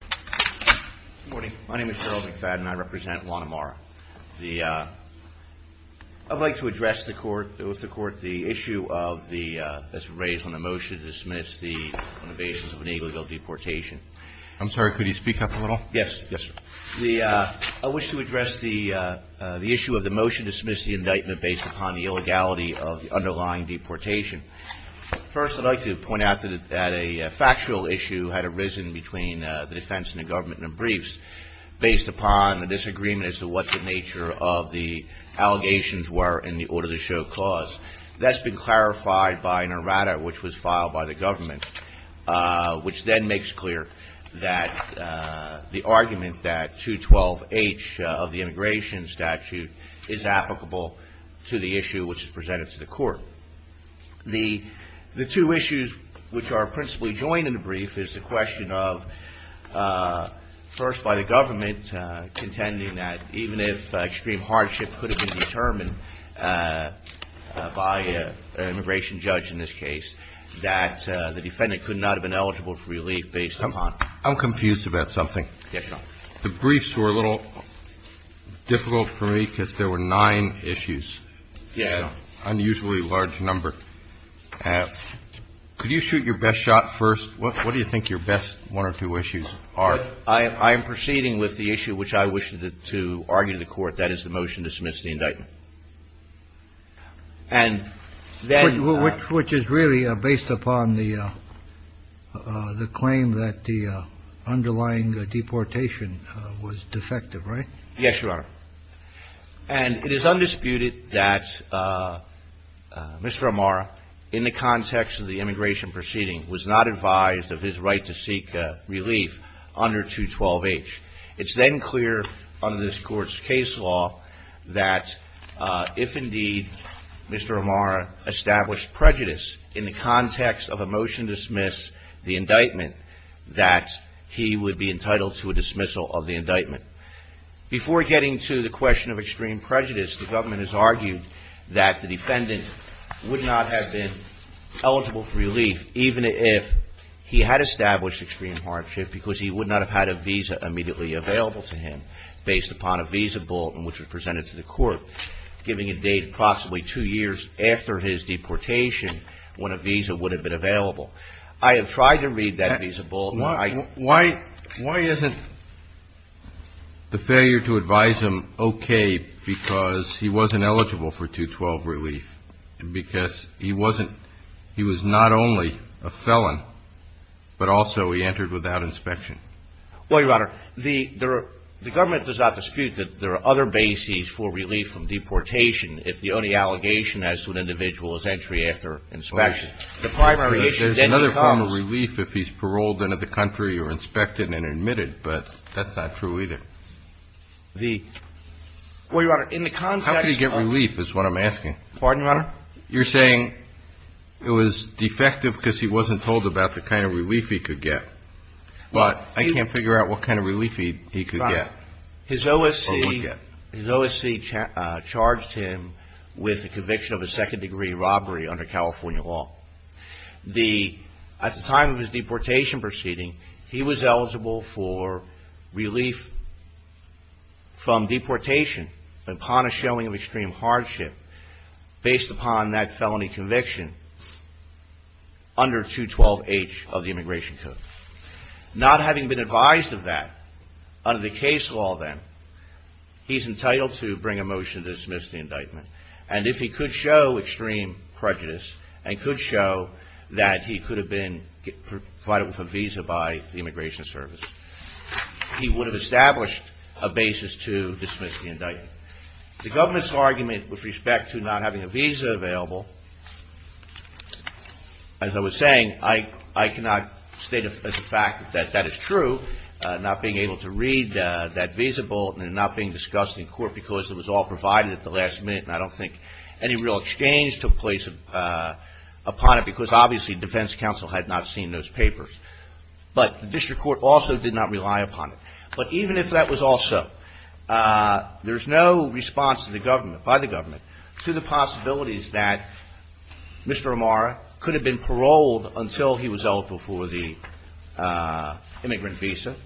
Good morning. My name is Gerald McFadden. I represent Juan Amarra. I'd like to address the court, the issue of the, as raised on the motion to dismiss the, on the basis of an illegal deportation. I'm sorry, could you speak up a little? Yes, yes, sir. I wish to address the issue of the motion to dismiss the indictment based upon the illegality of the underlying deportation. First, I'd like to point out that a factual issue had arisen between the defense and the government in the briefs based upon a disagreement as to what the nature of the allegations were in the order to show cause. That's been clarified by an errata which was filed by the government, which then makes clear that the argument that 212H of the immigration statute is applicable to the issue which is presented to the court. The two issues which are principally joined in the brief is the question of, first by the government contending that even if extreme hardship could have been determined by an immigration judge in this case, that the defendant could not have been eligible for relief based upon. I'm confused about something. Yes, Your Honor. The briefs were a little difficult for me because there were nine issues. Yeah. An unusually large number. Could you shoot your best shot first? What do you think your best one or two issues are? I am proceeding with the issue which I wish to argue to the court. That is the motion to dismiss the indictment. Which is really based upon the claim that the underlying deportation was defective, right? Yes, Your Honor. And it is undisputed that Mr. Amara, in the context of the immigration proceeding, was not advised of his right to seek relief under 212H. It's then clear under this court's case law that if indeed Mr. Amara established prejudice in the context of a motion to dismiss the indictment, that he would be entitled to a dismissal of the indictment. Before getting to the question of extreme prejudice, the government has argued that the defendant would not have been eligible for relief even if he had established extreme hardship because he would not have had a visa immediately available to him based upon a visa bulletin which was presented to the court giving a date possibly two years after his deportation when a visa would have been available. I have tried to read that visa bulletin. Why isn't the failure to advise him okay because he wasn't eligible for 212 relief and because he wasn't – he was not only a felon, but also he entered without inspection? Well, Your Honor, the government does not dispute that there are other bases for relief from deportation if the only allegation as to an individual is entry after inspection. There's another form of relief if he's paroled into the country or inspected and admitted, but that's not true either. The – well, Your Honor, in the context of – How could he get relief is what I'm asking. Pardon, Your Honor? You're saying it was defective because he wasn't told about the kind of relief he could get, but I can't figure out what kind of relief he could get or would get. His OSC charged him with the conviction of a second-degree robbery under California law. The – at the time of his deportation proceeding, he was eligible for relief from deportation upon a showing of extreme hardship based upon that felony conviction under 212H of the Immigration Code. Not having been advised of that under the case law then, he's entitled to bring a motion to dismiss the indictment. And if he could show extreme prejudice and could show that he could have been provided with a visa by the Immigration Service, he would have established a basis to dismiss the indictment. The government's argument with respect to not having a visa available, as I was saying, I cannot state as a fact that that is true. Not being able to read that visa bulletin and not being discussed in court because it was all provided at the last minute, and I don't think any real exchange took place upon it, because obviously defense counsel had not seen those papers. But the district court also did not rely upon it. But even if that was also – there's no response to the government, by the government, to the possibilities that Mr. Amara could have been paroled until he was eligible for the immigrant visa,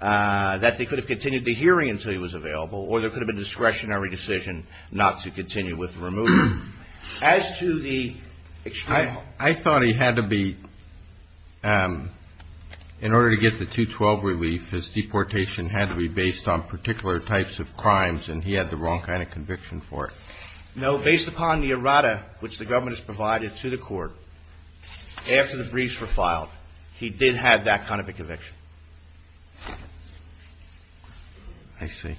that they could have continued the hearing until he was available, or there could have been a discretionary decision not to continue with the removal. As to the extreme – I thought he had to be – in order to get the 212 relief, his deportation had to be based on particular types of crimes, and he had the wrong kind of conviction for it. No. Based upon the errata which the government has provided to the court, after the briefs were filed, he did have that kind of a conviction. I see.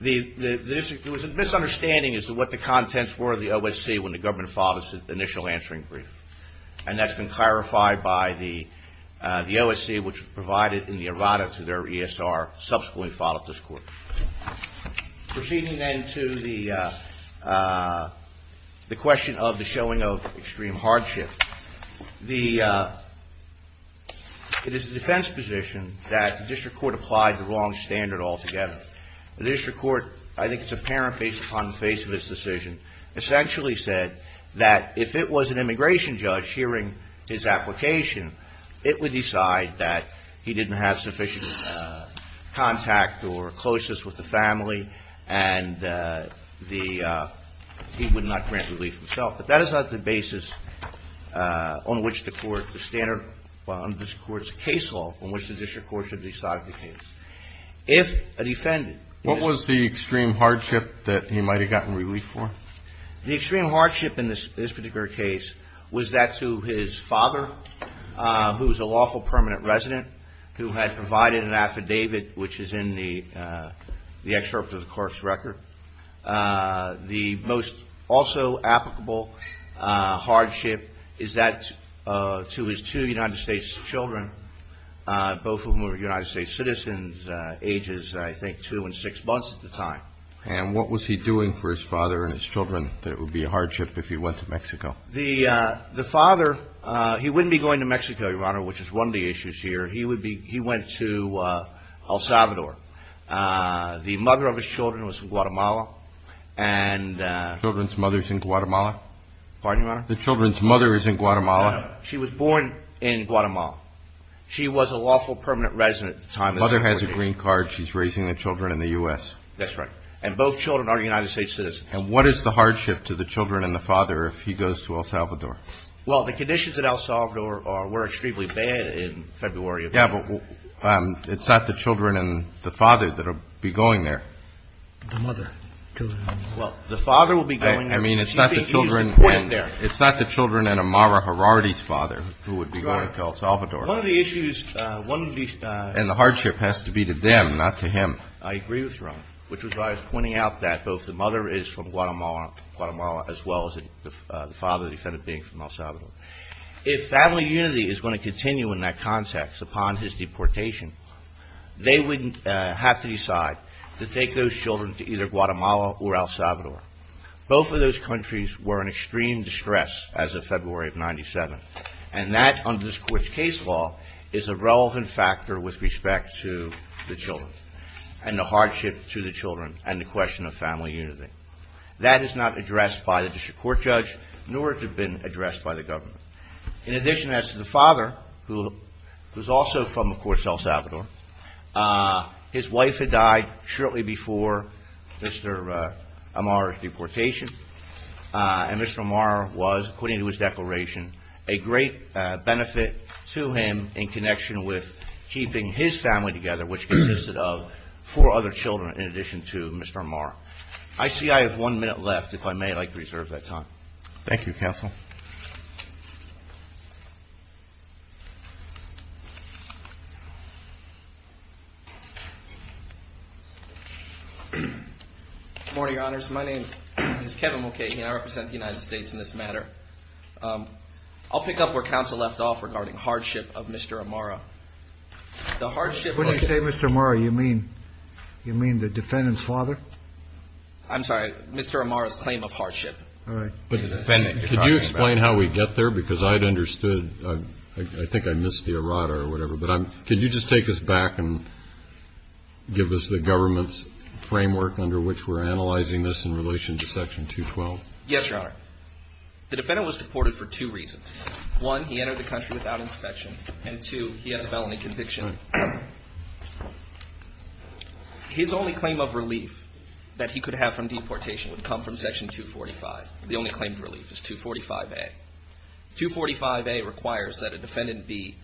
The – there was a misunderstanding as to what the contents were of the OSC when the government filed its initial answering brief. And that's been clarified by the OSC, which provided in the errata to their ESR subsequently filed at this court. Proceeding then to the question of the showing of extreme hardship, the – it is the defense position that the district court applied the wrong standard altogether. The district court, I think it's apparent based upon the face of this decision, essentially said that if it was an immigration judge hearing his application, it would decide that he didn't have sufficient contact or closeness with the family, and the – he would not grant relief himself. But that is not the basis on which the court – the standard on which the court's case law, on which the district court should decide the case. If a defendant – What was the extreme hardship that he might have gotten relief for? The extreme hardship in this particular case was that to his father, who was a lawful permanent resident, who had provided an affidavit, which is in the excerpt of the court's record. The most also applicable hardship is that to his two United States children, both of whom were United States citizens, ages I think two and six months at the time. And what was he doing for his father and his children that it would be a hardship if he went to Mexico? The father – he wouldn't be going to Mexico, Your Honor, which is one of the issues here. He would be – he went to El Salvador. The mother of his children was from Guatemala. And – The children's mother is in Guatemala? Pardon, Your Honor? The children's mother is in Guatemala? No, she was born in Guatemala. She was a lawful permanent resident at the time. The mother has a green card. She's raising the children in the U.S. That's right. And both children are United States citizens. And what is the hardship to the children and the father if he goes to El Salvador? Well, the conditions in El Salvador were extremely bad in February of – Yeah, but it's not the children and the father that will be going there. The mother. Well, the father will be going there. I mean, it's not the children and Amara Herardi's father who would be going to El Salvador. One of the issues – And the hardship has to be to them, not to him. I agree with Your Honor, which was why I was pointing out that both the mother is from Guatemala, as well as the father, the defendant being from El Salvador. If family unity is going to continue in that context upon his deportation, they would have to decide to take those children to either Guatemala or El Salvador. Both of those countries were in extreme distress as of February of 1997. And that, under this court's case law, is a relevant factor with respect to the children and the hardship to the children and the question of family unity. That is not addressed by the district court judge, nor has it been addressed by the government. In addition, as to the father, who is also from, of course, El Salvador, his wife had died shortly before Mr. Amara's deportation, and Mr. Amara was, according to his declaration, a great benefit to him in connection with keeping his family together, which consisted of four other children in addition to Mr. Amara. I see I have one minute left, if I may, I'd like to reserve that time. Thank you, counsel. Good morning, Your Honors. My name is Kevin Mulcahy, and I represent the United States in this matter. I'll pick up where counsel left off regarding hardship of Mr. Amara. The hardship of Mr. Amara. When you say Mr. Amara, you mean the defendant's father? I'm sorry. Mr. Amara's claim of hardship. All right. Could you explain how we get there? Because I'd understood. I think I missed the errata or whatever. But could you just take us back and give us the government's framework under which we're analyzing this in relation to Section 212? Yes, Your Honor. The defendant was deported for two reasons. One, he entered the country without inspection. And two, he had a felony conviction. His only claim of relief that he could have from deportation would come from Section 245. The only claim of relief is 245A. 245A requires that a defendant be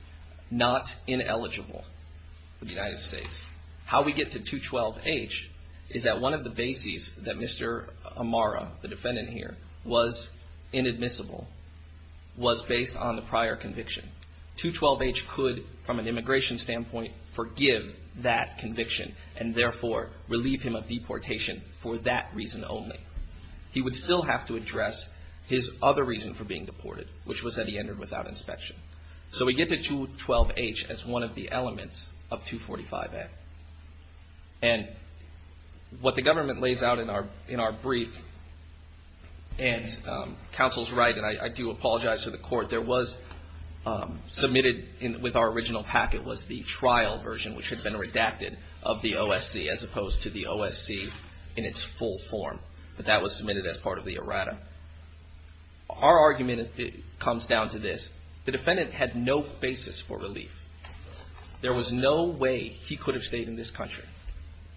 not ineligible for the United States. How we get to 212H is that one of the bases that Mr. Amara, the defendant here, was inadmissible was based on the prior conviction. 212H could, from an immigration standpoint, forgive that conviction and, therefore, relieve him of deportation for that reason only. He would still have to address his other reason for being deported, which was that he entered without inspection. So we get to 212H as one of the elements of 245A. And what the government lays out in our brief, and counsel's right, and I do apologize to the court, there was submitted with our original packet was the trial version, which had been redacted, of the OSC as opposed to the OSC in its full form. But that was submitted as part of the errata. Our argument comes down to this. The defendant had no basis for relief. There was no way he could have stayed in this country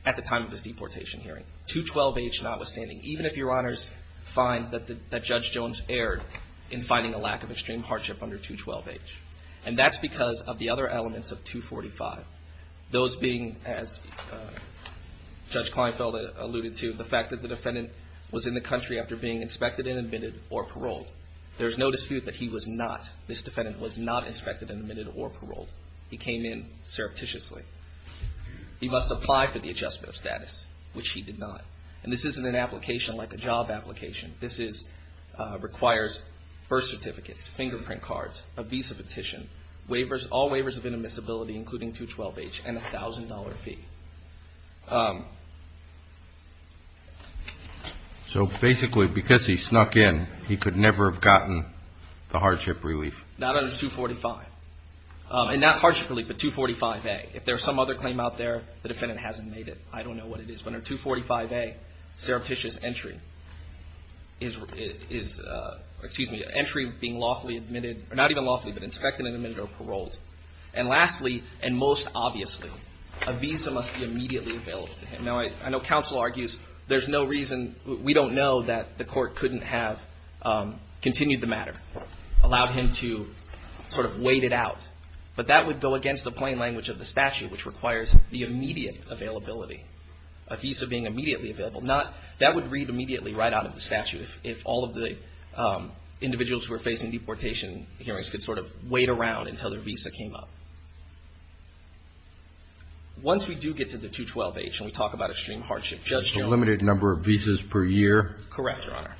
at the time of his deportation hearing, 212H notwithstanding, even if Your Honors find that Judge Jones erred in finding a lack of extreme hardship under 212H. And that's because of the other elements of 245, those being, as Judge Kleinfeld alluded to, the fact that the defendant was in the country after being inspected and admitted or paroled. There is no dispute that he was not, this defendant was not inspected and admitted or paroled. He came in surreptitiously. He must apply for the adjustment of status, which he did not. And this isn't an application like a job application. This is, requires birth certificates, fingerprint cards, a visa petition, waivers, all waivers of inadmissibility including 212H, and a $1,000 fee. So basically, because he snuck in, he could never have gotten the hardship relief. Not under 245. And not hardship relief, but 245A. If there's some other claim out there, the defendant hasn't made it. I don't know what it is. But under 245A, surreptitious entry is, excuse me, entry being lawfully admitted, or not even lawfully, but inspected and admitted or paroled. And lastly, and most obviously, a visa must be granted. A visa must be immediately available to him. Now, I know counsel argues there's no reason, we don't know that the court couldn't have continued the matter, allowed him to sort of wait it out. But that would go against the plain language of the statute, which requires the immediate availability. A visa being immediately available. That would read immediately right out of the statute, if all of the individuals who are facing deportation hearings could sort of wait around until their visa came up. Once we do get to the 212H and we talk about extreme hardship, Judge Jones. A limited number of visas per year. Correct, Your Honor.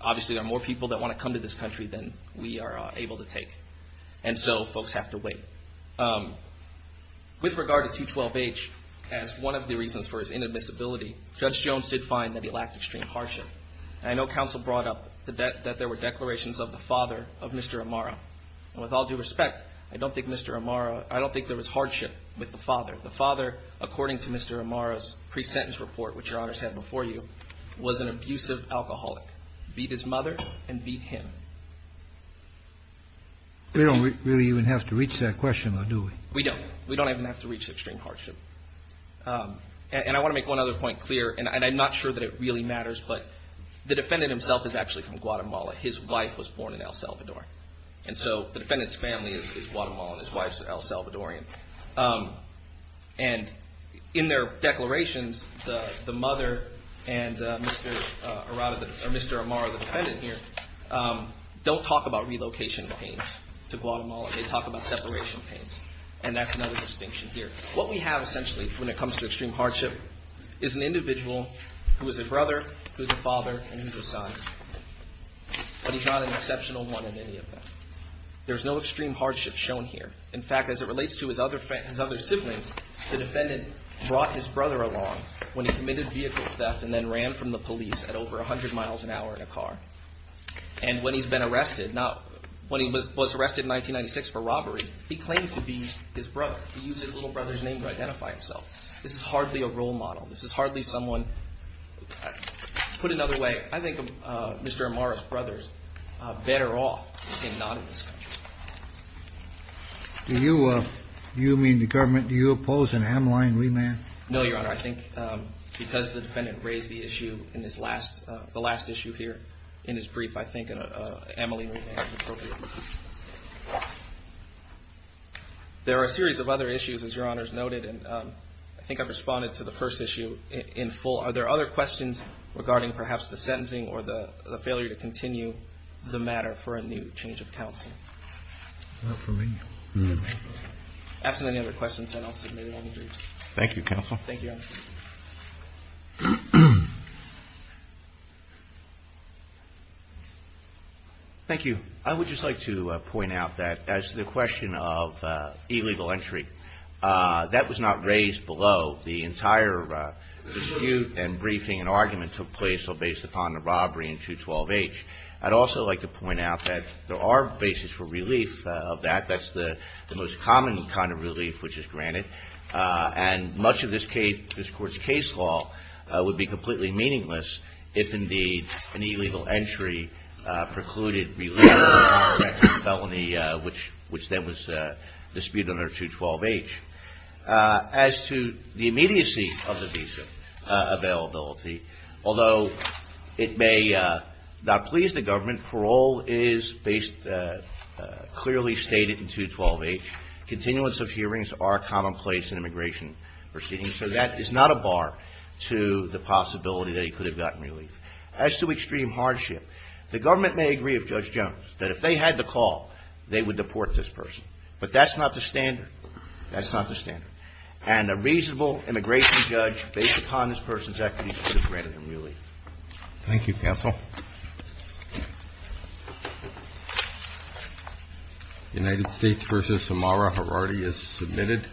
Obviously, there are more people that want to come to this country than we are able to take. And so, folks have to wait. With regard to 212H, as one of the reasons for his inadmissibility, Judge Jones did find that he lacked extreme hardship. And I know counsel brought up that there were declarations of the father of Mr. Amara. And with all due respect, I don't think Mr. Amara, I don't think there was hardship with the father. The father, according to Mr. Amara's pre-sentence report, which Your Honor said before you, was an abusive alcoholic. Beat his mother and beat him. We don't really even have to reach that question, though, do we? We don't. We don't even have to reach extreme hardship. And I want to make one other point clear, and I'm not sure that it really matters, but the defendant himself is actually from Guatemala. His wife was born in El Salvador. And so, the defendant's family is Guatemalan. His wife is El Salvadorian. And in their declarations, the mother and Mr. Amara, the defendant here, don't talk about relocation pains to Guatemala. They talk about separation pains. And that's another distinction here. What we have, essentially, when it comes to extreme hardship, is an individual who is a brother, who is a father, and who is a son. But he's not an exceptional one in any of them. There's no extreme hardship shown here. In fact, as it relates to his other siblings, the defendant brought his brother along when he committed vehicle theft and then ran from the police at over 100 miles an hour in a car. And when he's been arrested, not when he was arrested in 1996 for robbery, he claims to be his brother. He uses his little brother's name to identify himself. This is hardly a role model. This is hardly someone. To put it another way, I think Mr. Amara's brother is better off in not in this country. Do you mean the government, do you oppose an Ameline remand? No, Your Honor. I think because the defendant raised the issue in the last issue here in his brief, I think an Ameline remand is appropriate. There are a series of other issues, as Your Honor has noted, and I think I've responded to the first issue in full. Are there other questions regarding perhaps the sentencing or the failure to continue the matter for a new change of counsel? Not for me. After any other questions, then I'll submit it on the brief. Thank you, counsel. Thank you, Your Honor. Thank you. I would just like to point out that as to the question of illegal entry, that was not raised below the entire dispute and briefing and argument took place based upon the robbery in 212-H. I'd also like to point out that there are bases for relief of that. That's the most common kind of relief which is granted, and much of this Court's case law would be completely meaningless if, indeed, an illegal entry precluded relief of a direct felony, which then was disputed under 212-H. As to the immediacy of the visa availability, although it may not please the government, parole is clearly stated in 212-H. Continuance of hearings are commonplace in immigration proceedings, so that is not a bar to the possibility that he could have gotten relief. As to extreme hardship, the government may agree with Judge Jones that if they had the call, they would deport this person. But that's not the standard. That's not the standard. And a reasonable immigration judge, based upon this person's equity, could have granted him relief. Thank you, counsel. United States v. Samara Herardi is submitted.